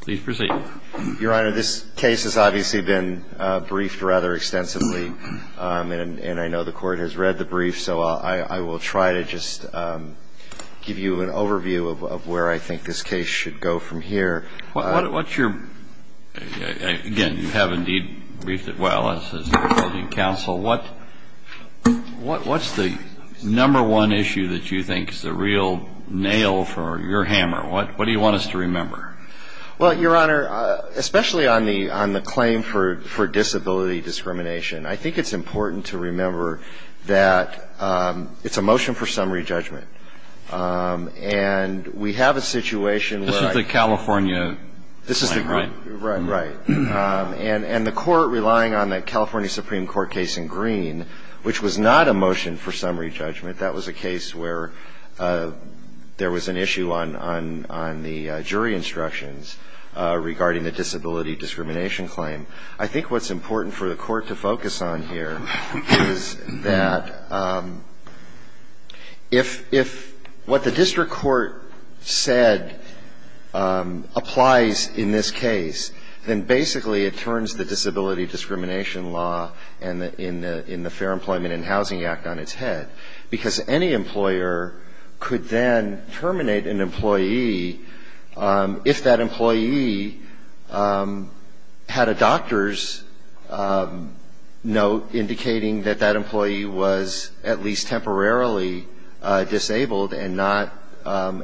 Please proceed. Your Honor, this case has obviously been briefed rather extensively, and I know the Court has read the brief, so I will try to just give you an overview of where I think this case should go from here. What's your, again, you have indeed briefed it well, what's the number one issue that you think is the real nail for your hammer? What do you want us to remember? Well, Your Honor, especially on the claim for disability discrimination, I think it's important to remember that it's a motion for summary judgment. And we have a situation where This is the California claim, right? Right, right. And the Court, relying on the California Supreme Court case in Green, which was not a motion for summary judgment, that was a case where there was an issue on the jury instructions regarding the disability discrimination claim. I think what's important for the Court to focus on here is that if what the district court said applies in this case, then basically it turns the disability discrimination And in the Fair Employment and Housing Act on its head, because any employer could then terminate an employee if that employee had a doctor's note indicating that that employee was at least temporarily disabled and not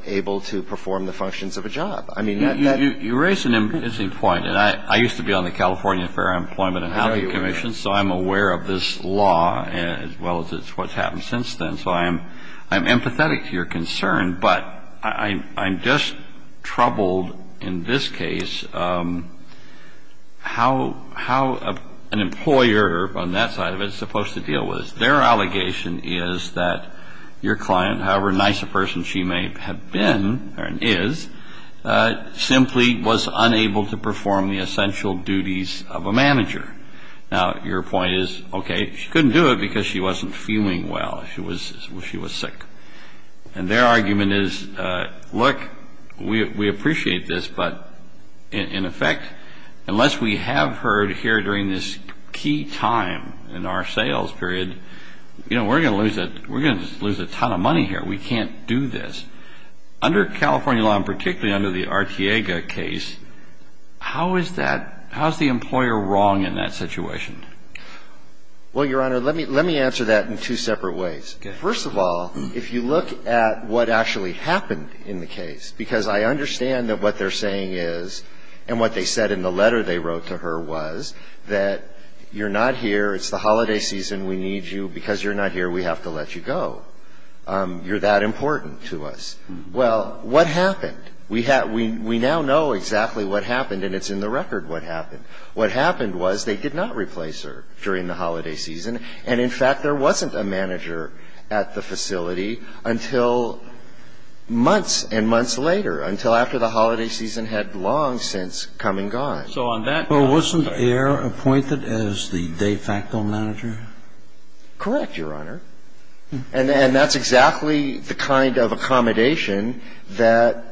able to perform the functions of a job. You raise an interesting point, and I used to be on the California Fair Employment and Housing Commission, so I'm aware of this law as well as what's happened since then. So I'm empathetic to your concern, but I'm just troubled in this case how an employer on that side of it is supposed to deal with this. Their allegation is that your client, however nice a person she may have been or is, simply was unable to perform the essential duties of a manager. Now, your point is, okay, she couldn't do it because she wasn't feeling well. She was sick. And their argument is, look, we appreciate this, but in effect, unless we have her here during this key time in our sales period, we're going to lose a ton of money here. We can't do this. Under California law, and particularly under the Artiega case, how is that – how is the employer wrong in that situation? Well, Your Honor, let me answer that in two separate ways. Okay. First of all, if you look at what actually happened in the case, because I understand that what they're saying is, and what they said in the letter they wrote to her was, that you're not here, it's the holiday season, we need you. Because you're not here, we have to let you go. You're that important to us. Well, what happened? We now know exactly what happened, and it's in the record what happened. What happened was they did not replace her during the holiday season. And, in fact, there wasn't a manager at the facility until months and months later, until after the holiday season had long since come and gone. So on that – Well, wasn't Ayer appointed as the de facto manager? Correct, Your Honor. And that's exactly the kind of accommodation that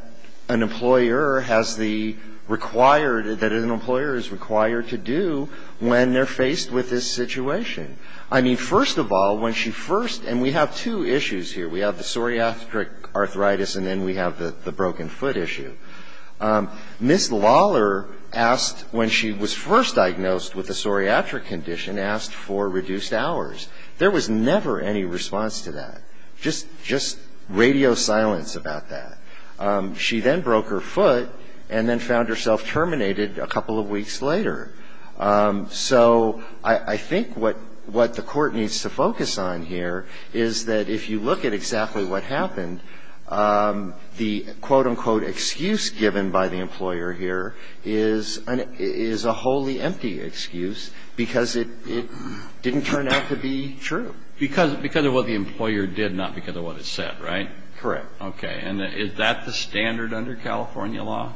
an employer has the required – that an employer is required to do when they're faced with this situation. I mean, first of all, when she first – and we have two issues here. We have the psoriatic arthritis, and then we have the broken foot issue. Ms. Lawler asked – when she was first diagnosed with a psoriatic condition, asked for reduced hours. There was never any response to that, just radio silence about that. She then broke her foot and then found herself terminated a couple of weeks later. So I think what the Court needs to focus on here is that if you look at exactly what happened, the quote, unquote, excuse given by the employer here is a wholly empty excuse because it didn't turn out to be true. Because of what the employer did, not because of what it said, right? Correct. Okay. And is that the standard under California law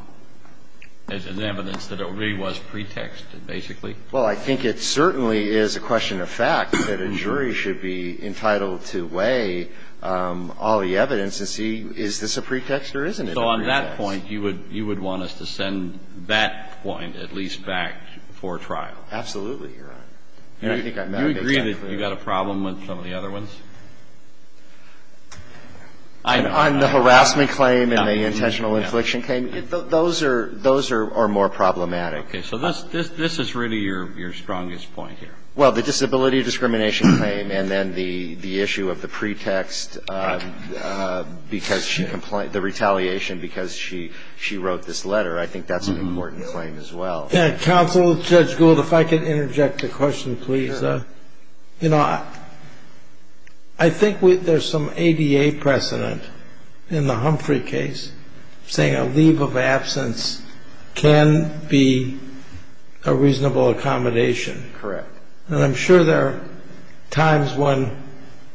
as an evidence that it really was pretexted, basically? Well, I think it certainly is a question of fact that a jury should be entitled to weigh all the evidence and see is this a pretext or isn't it a pretext. So on that point, you would want us to send that point at least back for trial? Absolutely, Your Honor. Do you agree that you've got a problem with some of the other ones? On the harassment claim and the intentional infliction claim? Those are more problematic. Okay. So this is really your strongest point here. Well, the disability discrimination claim and then the issue of the pretext because she – the retaliation because she wrote this letter, I think that's an important claim as well. Counsel, Judge Gould, if I could interject a question, please. Sure. You know, I think there's some ADA precedent in the Humphrey case saying a leave of absence can be a reasonable accommodation. Correct. And I'm sure there are times when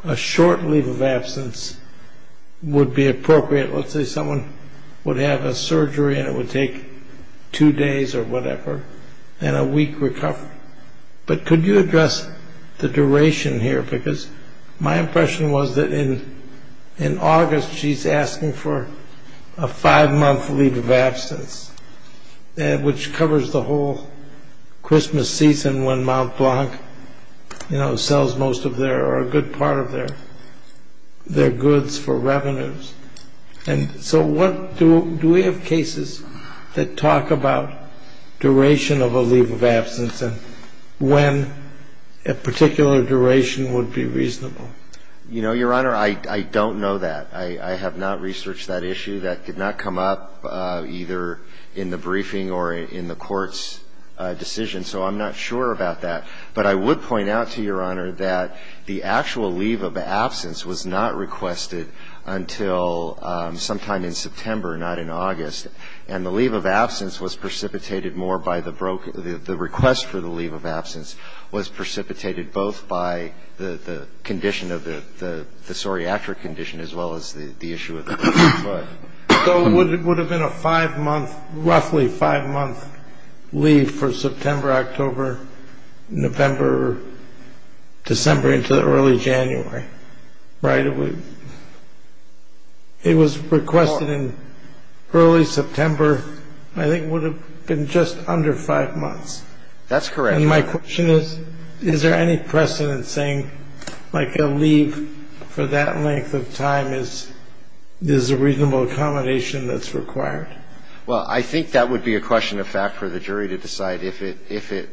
a short leave of absence would be appropriate. Let's say someone would have a surgery and it would take two days or whatever and a week recovery. But could you address the duration here? Because my impression was that in August she's asking for a five-month leave of absence, which covers the whole Christmas season when Mont Blanc, you know, Do we have cases that talk about duration of a leave of absence and when a particular duration would be reasonable? You know, Your Honor, I don't know that. I have not researched that issue. That did not come up either in the briefing or in the court's decision, so I'm not sure about that. But I would point out to Your Honor that the actual leave of absence was not requested until sometime in September, not in August. And the leave of absence was precipitated more by the request for the leave of absence was precipitated both by the condition of the psoriatic condition as well as the issue of the foot. So it would have been a five-month, roughly five-month leave for September, October, November, December into early January, right? It was requested in early September. I think it would have been just under five months. That's correct. And my question is, is there any precedent saying, like, a leave for that length of time is a reasonable accommodation that's required? Well, I think that would be a question of fact for the jury to decide if it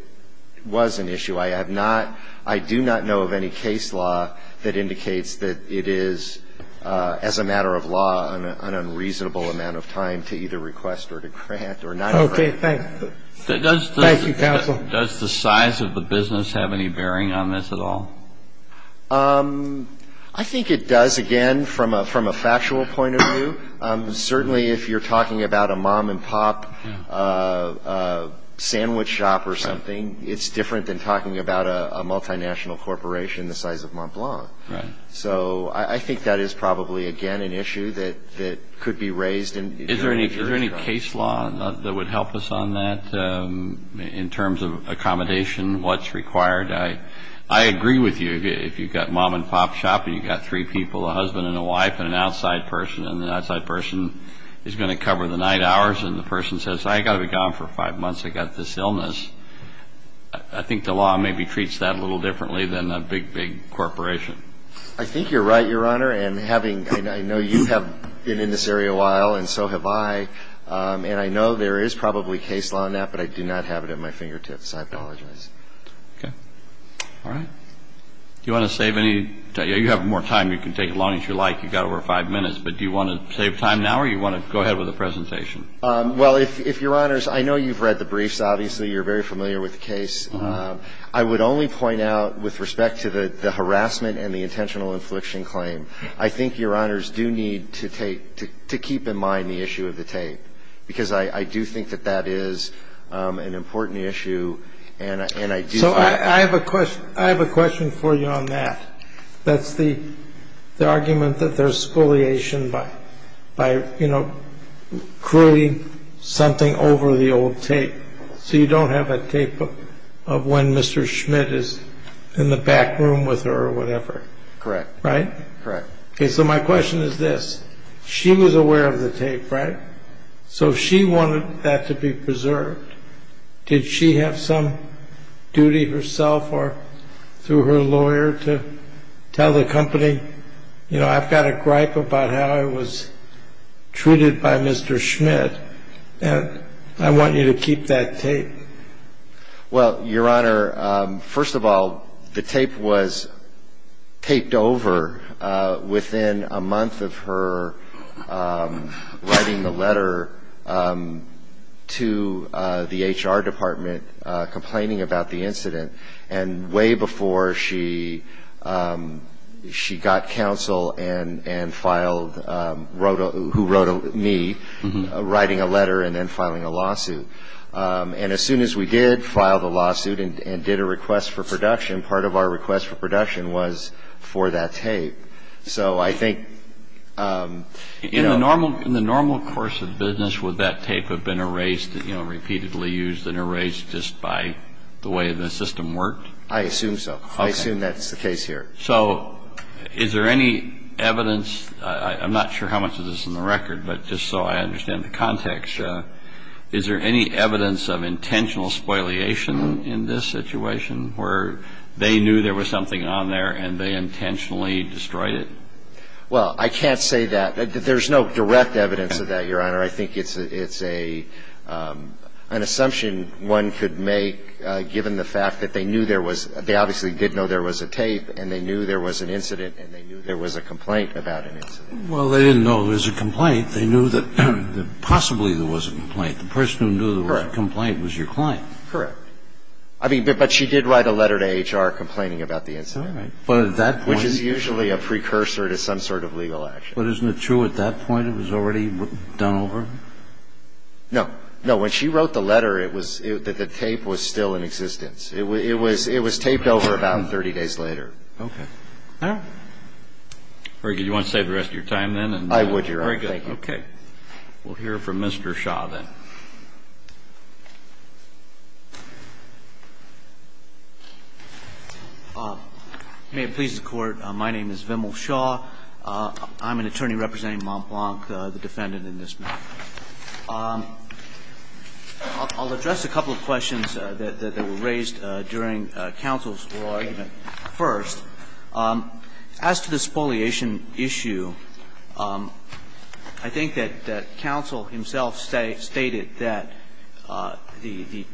was an issue. I have not – I do not know of any case law that indicates that it is, as a matter of law, an unreasonable amount of time to either request or to grant or not grant. Okay. Thanks. Thank you, counsel. Does the size of the business have any bearing on this at all? I think it does, again, from a factual point of view. Certainly, if you're talking about a mom-and-pop sandwich shop or something, it's different than talking about a multinational corporation the size of Mont Blanc. Right. So I think that is probably, again, an issue that could be raised. Is there any case law that would help us on that in terms of accommodation, what's required? I agree with you. If you've got mom-and-pop shop and you've got three people, a husband and a wife and an outside person, and the outside person is going to cover the night hours and the person says, I've got to be gone for five months, I've got this illness, I think the law maybe treats that a little differently than a big, big corporation. I think you're right, Your Honor. And I know you have been in this area a while and so have I. And I know there is probably case law on that, but I do not have it at my fingertips. I apologize. Okay. All right. Do you want to save any time? You have more time. You can take as long as you like. You've got over five minutes. But do you want to save time now or do you want to go ahead with the presentation? Well, if, Your Honors, I know you've read the briefs. Obviously, you're very familiar with the case. I would only point out, with respect to the harassment and the intentional infliction claim, I think Your Honors do need to take to keep in mind the issue of the tape, because I do think that that is an important issue and I do think that the case is So I have a question. I have a question for you on that. That's the argument that there's spoliation by creating something over the old tape so you don't have a tape of when Mr. Schmidt is in the back room with her or whatever. Correct. Right? Correct. Okay. So my question is this. She was aware of the tape, right? So she wanted that to be preserved. Did she have some duty herself or through her lawyer to tell the company, you know, I've got a gripe about how I was treated by Mr. Schmidt, and I want you to keep that tape. Well, Your Honor, first of all, the tape was taped over within a month of her writing the letter to the HR department complaining about the incident, and way before she got counsel and filed, who wrote me, writing a letter and then filing a lawsuit. And as soon as we did file the lawsuit and did a request for production, part of our request for production was for that tape. So I think, you know. In the normal course of business, would that tape have been erased, you know, repeatedly used and erased just by the way the system worked? I assume so. Okay. I assume that's the case here. So is there any evidence, I'm not sure how much of this is in the record, but just so I understand the context, is there any evidence of intentional spoliation in this situation where they knew there was something on there and they intentionally destroyed it? Well, I can't say that. There's no direct evidence of that, Your Honor. I think it's an assumption one could make given the fact that they knew there was – they obviously did know there was a tape and they knew there was an incident and they knew there was a complaint about an incident. Well, they didn't know there was a complaint. They knew that possibly there was a complaint. The person who knew there was a complaint was your client. Correct. I mean, but she did write a letter to HR complaining about the incident. All right. But at that point – Which is usually a precursor to some sort of legal action. But isn't it true at that point it was already done over? No. No. When she wrote the letter, it was – the tape was still in existence. It was taped over about 30 days later. Okay. All right. Very good. Do you want to save the rest of your time then? I would, Your Honor. Very good. Thank you. Okay. We'll hear from Mr. Shaw then. May it please the Court. My name is Vimal Shaw. I'm an attorney representing Montblanc, the defendant in this matter. I'll address a couple of questions that were raised during counsel's oral argument first. As to the spoliation issue, I think that counsel himself stated that the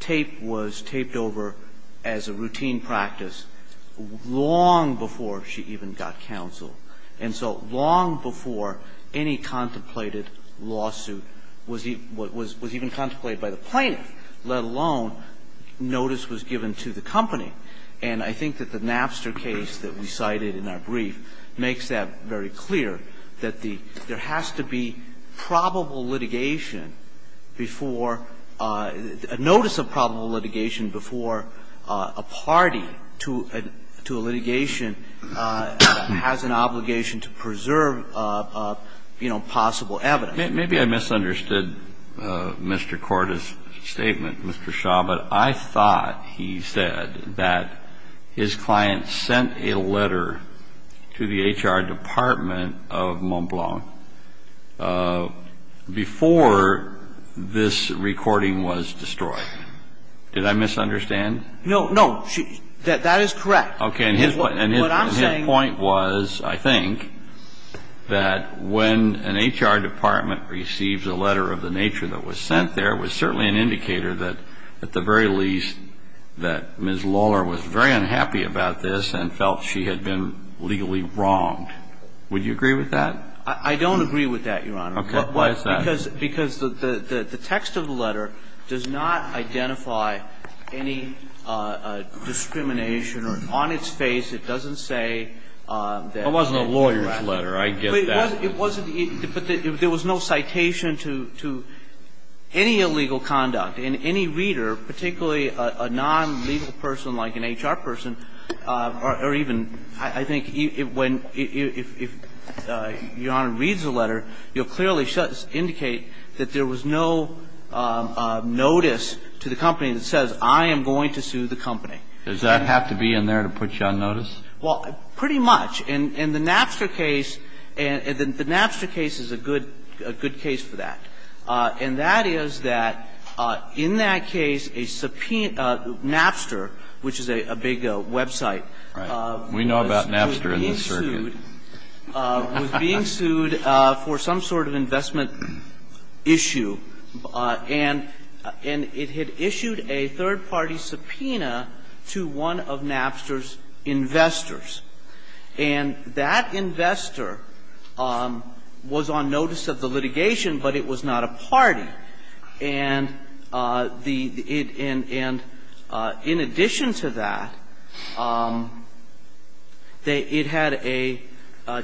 tape was taped over as a routine practice long before she even got counsel. And so long before any contemplated lawsuit was even contemplated by the plaintiff, let alone notice was given to the company. And I think that the Napster case that we cited in our brief makes that very clear, that there has to be probable litigation before – a notice of probable litigation before a party to a litigation has an obligation to preserve, you know, possible evidence. Maybe I misunderstood Mr. Korda's statement, Mr. Shaw, but I thought he said that his client sent a letter to the HR department of Montblanc before this recording was destroyed. Did I misunderstand? No, no. That is correct. Okay. And his point was, I think, that when an HR department receives a letter of the nature that was sent there, it was certainly an indicator that, at the very least, that Ms. Lawler was very unhappy about this and felt she had been legally wronged. Would you agree with that? I don't agree with that, Your Honor. Okay. Why is that? Because the text of the letter does not identify any discrimination or, on its face, it doesn't say that it's correct. It wasn't a lawyer's letter. I get that. It wasn't. But there was no citation to any illegal conduct. And any reader, particularly a non-legal person like an HR person, or even – I think when – if Your Honor reads the letter, you'll clearly indicate that there was no notice to the company that says, I am going to sue the company. Does that have to be in there to put you on notice? Well, pretty much. In the Napster case – and the Napster case is a good case for that. And that is that in that case, a subpoena – Napster, which is a big website. Right. We know about Napster and the circuit. It was being sued for some sort of investment issue. And it had issued a third-party subpoena to one of Napster's investors. And that investor was on notice of the litigation, but it was not a party. And in addition to that, it had a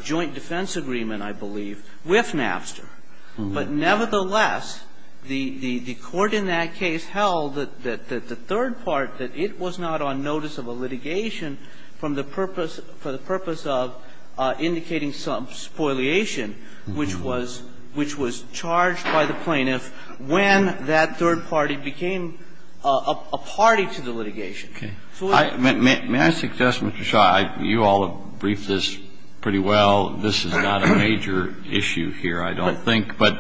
joint defense agreement, I believe, with Napster. But nevertheless, the court in that case held that the third part, that it was not on notice of a litigation for the purpose of indicating some spoliation, which was charged by the plaintiff when that third party became a party to the litigation. May I suggest, Mr. Shaw, you all have briefed this pretty well. This is not a major issue here, I don't think. But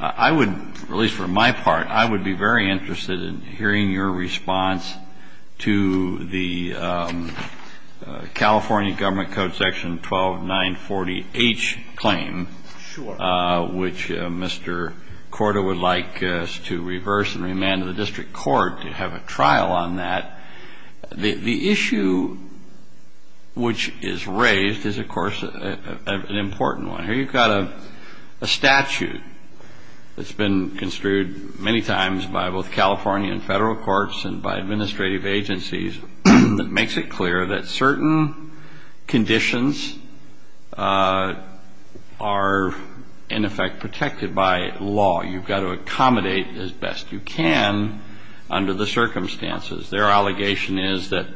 I would – at least for my part, I would be very interested in hearing your response to the California Government Code section 12940H claim. Sure. Which Mr. Korda would like us to reverse and remand to the district court to have a trial on that. The issue which is raised is, of course, an important one. Here you've got a statute that's been construed many times by both California and federal courts and by administrative agencies that makes it clear that certain conditions are, in effect, protected by law. You've got to accommodate as best you can under the circumstances. Their allegation is that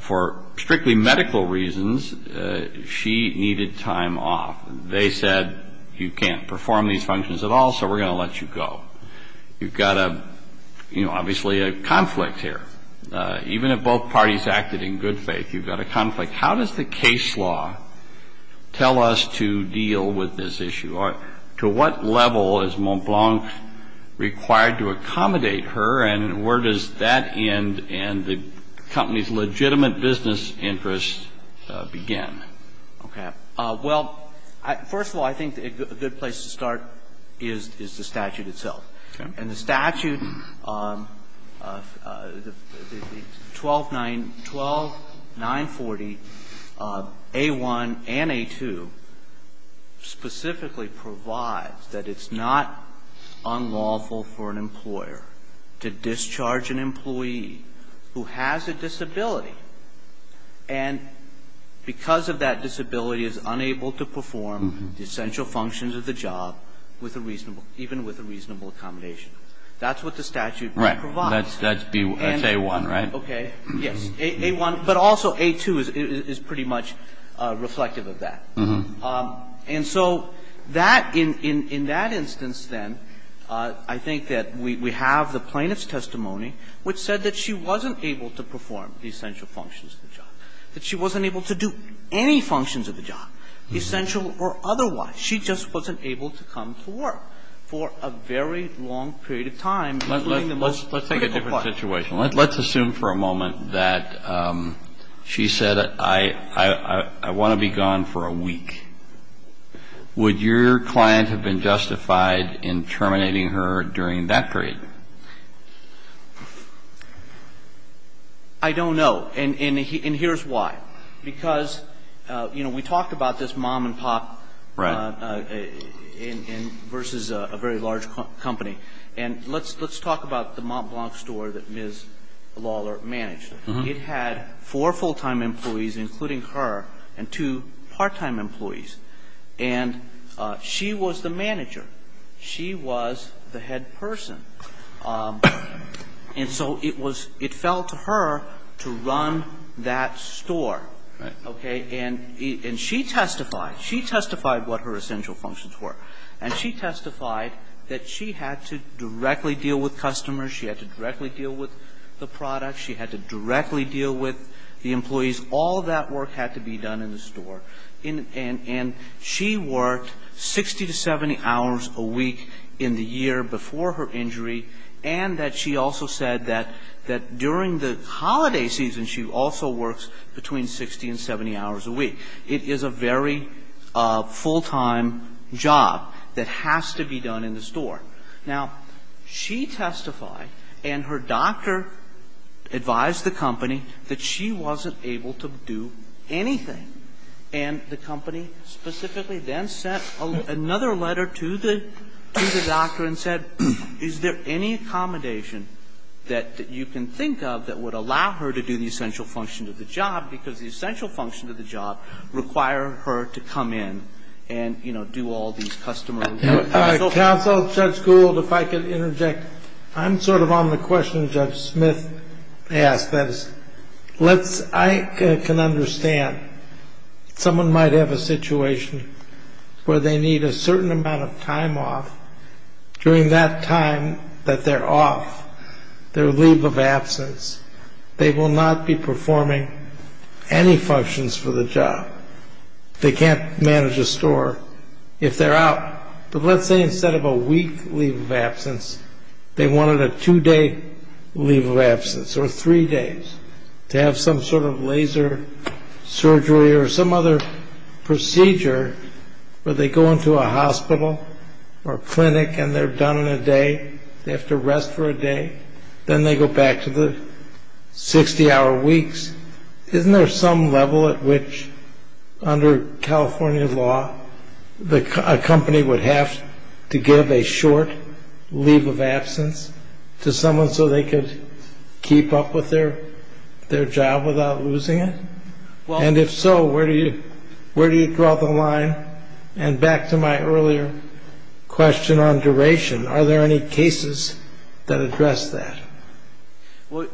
for strictly medical reasons, she needed time off. They said, you can't perform these functions at all, so we're going to let you go. You've got, you know, obviously a conflict here. Even if both parties acted in good faith, you've got a conflict. How does the case law tell us to deal with this issue? To what level is Montblanc required to accommodate her? And where does that end and the company's legitimate business interests begin? Okay. Well, first of all, I think a good place to start is the statute itself. Okay. And the statute, the 12940A1 and A2, specifically provides that it's not unlawful for an employer to discharge an employee who has a disability, and because of that disability is unable to perform the essential functions of the job with a reasonable accommodation. That's what the statute provides. Right. That's A1, right? Okay. Yes. A1. But also A2 is pretty much reflective of that. And so that, in that instance, then, I think that we have the plaintiff's testimony which said that she wasn't able to perform the essential functions of the job, that she wasn't able to do any functions of the job, essential or otherwise. She just wasn't able to come to work for a very long period of time. Let's take a different situation. Let's assume for a moment that she said, I want to be gone for a week. Would your client have been justified in terminating her during that period? I don't know. And here's why. Because, you know, we talked about this mom and pop versus a very large company. And let's talk about the Mont Blanc store that Ms. Lawler managed. It had four full-time employees, including her, and two part-time employees. And she was the manager. She was the head person. And so it was, it fell to her to run that store. Okay. And she testified. She testified what her essential functions were. And she testified that she had to directly deal with customers. She had to directly deal with the product. She had to directly deal with the employees. All that work had to be done in the store. And she worked 60 to 70 hours a week in the year before her injury. And that she also said that during the holiday season she also works between 60 and 70 hours a week. It is a very full-time job that has to be done in the store. Now, she testified and her doctor advised the company that she wasn't able to do anything. And the company specifically then sent another letter to the doctor and said, is there any accommodation that you can think of that would allow her to do the essential function of the job? Because the essential function of the job required her to come in and, you know, do all these customer. Counsel, Judge Gould, if I could interject. I'm sort of on the question Judge Smith asked. I can understand someone might have a situation where they need a certain amount of time off. During that time that they're off, their leave of absence, they will not be performing any functions for the job. They can't manage a store if they're out. But let's say instead of a week leave of absence, they wanted a two-day leave of absence or three days to have some sort of laser surgery or some other procedure where they go into a hospital or clinic and they're done in a day. They have to rest for a day. Then they go back to the 60-hour weeks. Isn't there some level at which under California law a company would have to give a short leave of absence to someone so they could keep up with their job without losing it? And if so, where do you draw the line? And back to my earlier question on duration, are there any cases that address that? Well,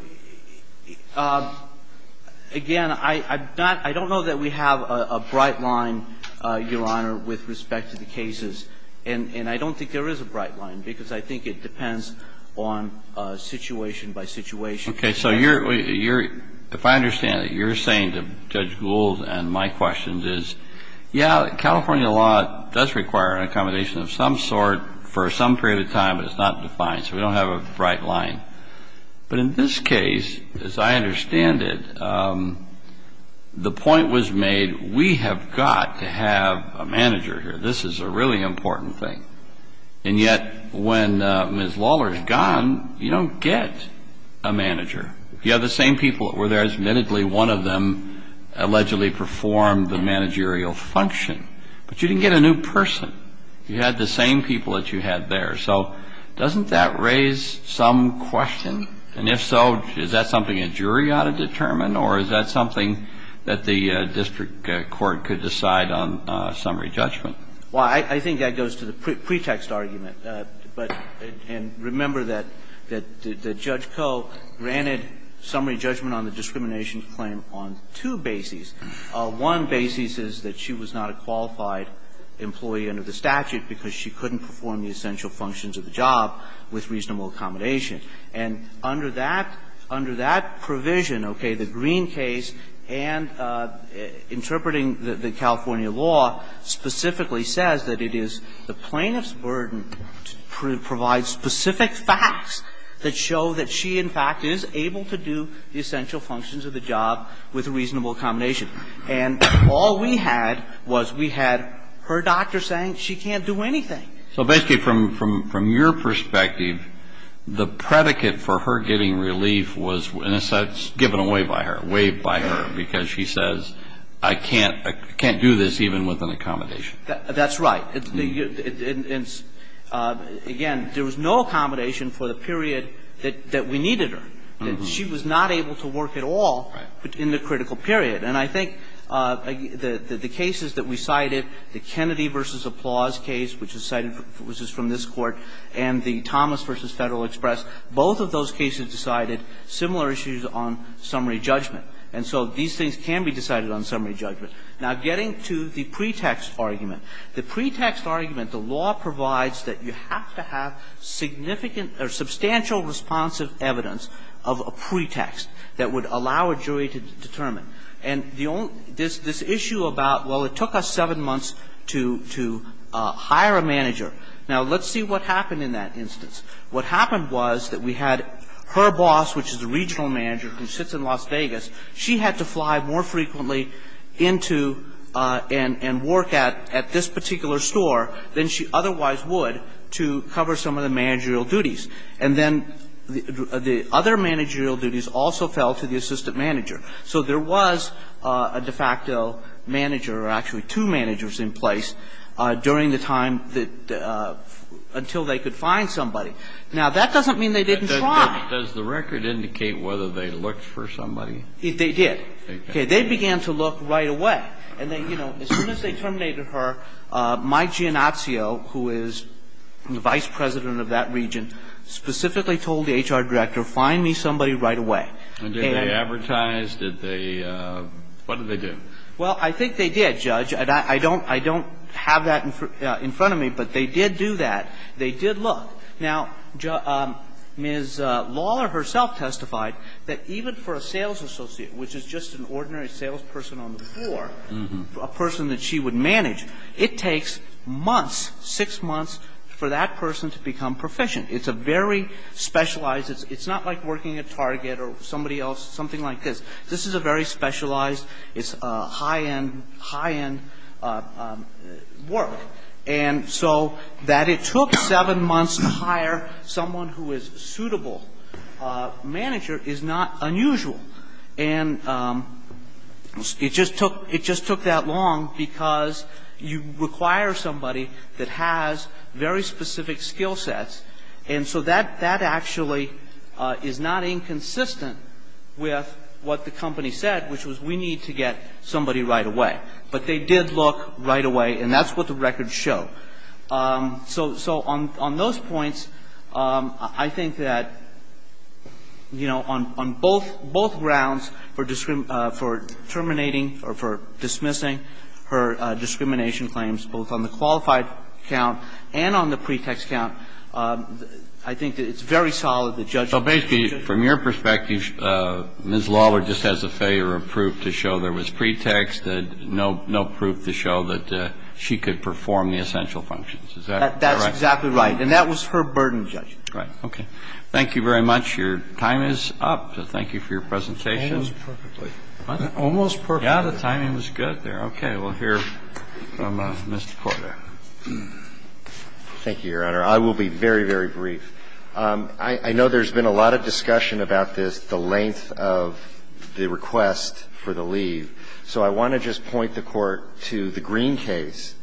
again, I'm not – I don't know that we have a bright line, Your Honor, with respect to the cases. And I don't think there is a bright line because I think it depends on situation by situation. Okay. So you're – if I understand it, you're saying to Judge Gould and my questions is, yeah, California law does require an accommodation of some sort for some period of time, but it's not defined, so we don't have a bright line. But in this case, as I understand it, the point was made we have got to have a manager here. This is a really important thing. And yet when Ms. Lawler is gone, you don't get a manager. You have the same people that were there. Admittedly, one of them allegedly performed the managerial function, but you didn't get a new person. You had the same people that you had there. So doesn't that raise some question? And if so, is that something a jury ought to determine, or is that something that the district court could decide on summary judgment? Well, I think that goes to the pretext argument. But – and remember that Judge Koh granted summary judgment on the discrimination claim on two bases. One basis is that she was not a qualified employee under the statute because she couldn't perform the essential functions of the job with reasonable accommodation. And under that – under that provision, okay, the Green case and interpreting the California law specifically says that it is the plaintiff's burden to provide specific facts that show that she, in fact, is able to do the essential functions of the job with reasonable accommodation. And all we had was we had her doctor saying she can't do anything. So basically, from your perspective, the predicate for her getting relief was, in a sense, given away by her, waived by her, because she says, I can't do this even with an accommodation. That's right. Again, there was no accommodation for the period that we needed her. She was not able to work at all in the critical period. And I think the cases that we cited, the Kennedy v. Applause case, which is cited from this Court, and the Thomas v. Federal Express, both of those cases decided similar issues on summary judgment. And so these things can be decided on summary judgment. Now, getting to the pretext argument, the pretext argument, the law provides that you have to have significant or substantial responsive evidence of a pretext that would allow a jury to determine. And the only this issue about, well, it took us seven months to hire a manager. Now, let's see what happened in that instance. What happened was that we had her boss, which is a regional manager who sits in Las Vegas, she had to fly more frequently into and work at this particular store than she otherwise would to cover some of the managerial duties. And then the other managerial duties also fell to the assistant manager. So there was a de facto manager or actually two managers in place during the time that the – until they could find somebody. Now, that doesn't mean they didn't try. But does the record indicate whether they looked for somebody? They did. Okay. They began to look right away. And then, you know, as soon as they terminated her, Mike Giannazio, who is the vice president of that region, specifically told the HR director, find me somebody right away. And did they advertise? Did they – what did they do? Well, I think they did, Judge. And I don't have that in front of me. But they did do that. They did look. Now, Ms. Lawler herself testified that even for a sales associate, which is just an ordinary salesperson on the floor, a person that she would manage, it takes months, six months, for that person to become proficient. It's a very specialized – it's not like working at Target or somebody else, something like this. This is a very specialized, it's high-end, high-end work. And so that it took seven months to hire someone who is a suitable manager is not unusual. And it just took – it just took that long because you require somebody that has very specific skill sets. And so that actually is not inconsistent with what the company said, which was we need to get somebody right away. But they did look right away, and that's what the records show. So on those points, I think that, you know, on both grounds for terminating or for dismissing her discrimination claims, both on the qualified count and on the pretext count, I think that it's very solid that Judge – So basically, from your perspective, Ms. Lawler just has a failure of proof to show there was pretext, no proof to show that she could perform the essential functions. Is that correct? That's exactly right. And that was her burden, Judge. Right. Okay. Thank you very much. Your time is up. So thank you for your presentation. Almost perfectly. What? Almost perfectly. Yeah, the timing was good there. Okay. We'll hear from Mr. Porter. Thank you, Your Honor. I will be very, very brief. I know there's been a lot of discussion about this, the length of the request for the leave. So I want to just point the Court to the Green case,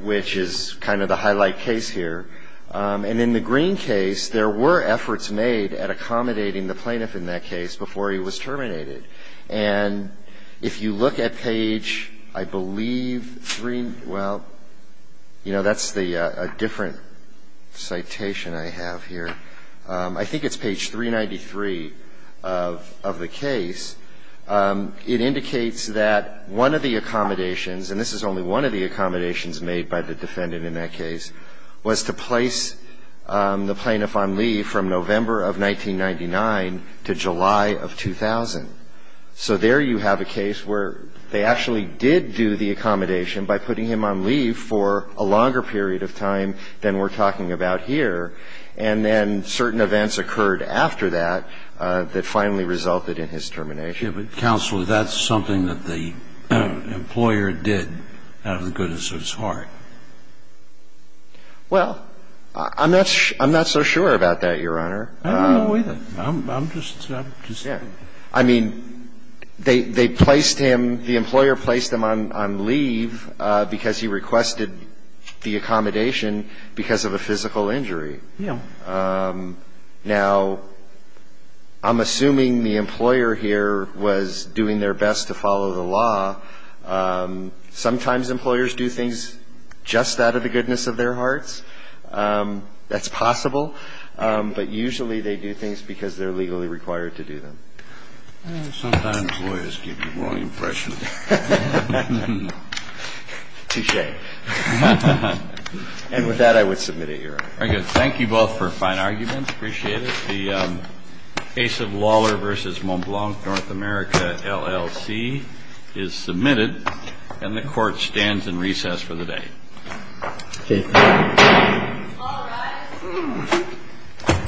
which is kind of the highlight case here. And in the Green case, there were efforts made at accommodating the plaintiff in that case before he was terminated. And if you look at page, I believe, three – well, you know, that's the different citation I have here. I think it's page 393 of the case. It indicates that one of the accommodations – and this is only one of the accommodations made by the defendant in that case – was to place the plaintiff on leave from November of 1999 to July of 2000. So there you have a case where they actually did do the accommodation by putting him on leave for a longer period of time than we're talking about here. And then certain events occurred after that that finally resulted in his termination. Yes, but counsel, that's something that the employer did out of the goodness of his heart. Well, I'm not so sure about that, Your Honor. I don't know either. I'm just saying. I mean, they placed him – the employer placed him on leave because he requested the accommodation because of a physical injury. Yeah. Now, I'm assuming the employer here was doing their best to follow the law. Sometimes employers do things just out of the goodness of their hearts. That's possible. But usually they do things because they're legally required to do them. Sometimes lawyers give you the wrong impression. Touche. And with that, I would submit it, Your Honor. Very good. Thank you both for fine arguments. Appreciate it. The case of Lawler v. Montblanc, North America, LLC, is submitted. And the Court stands in recess for the day. Thank you. All rise.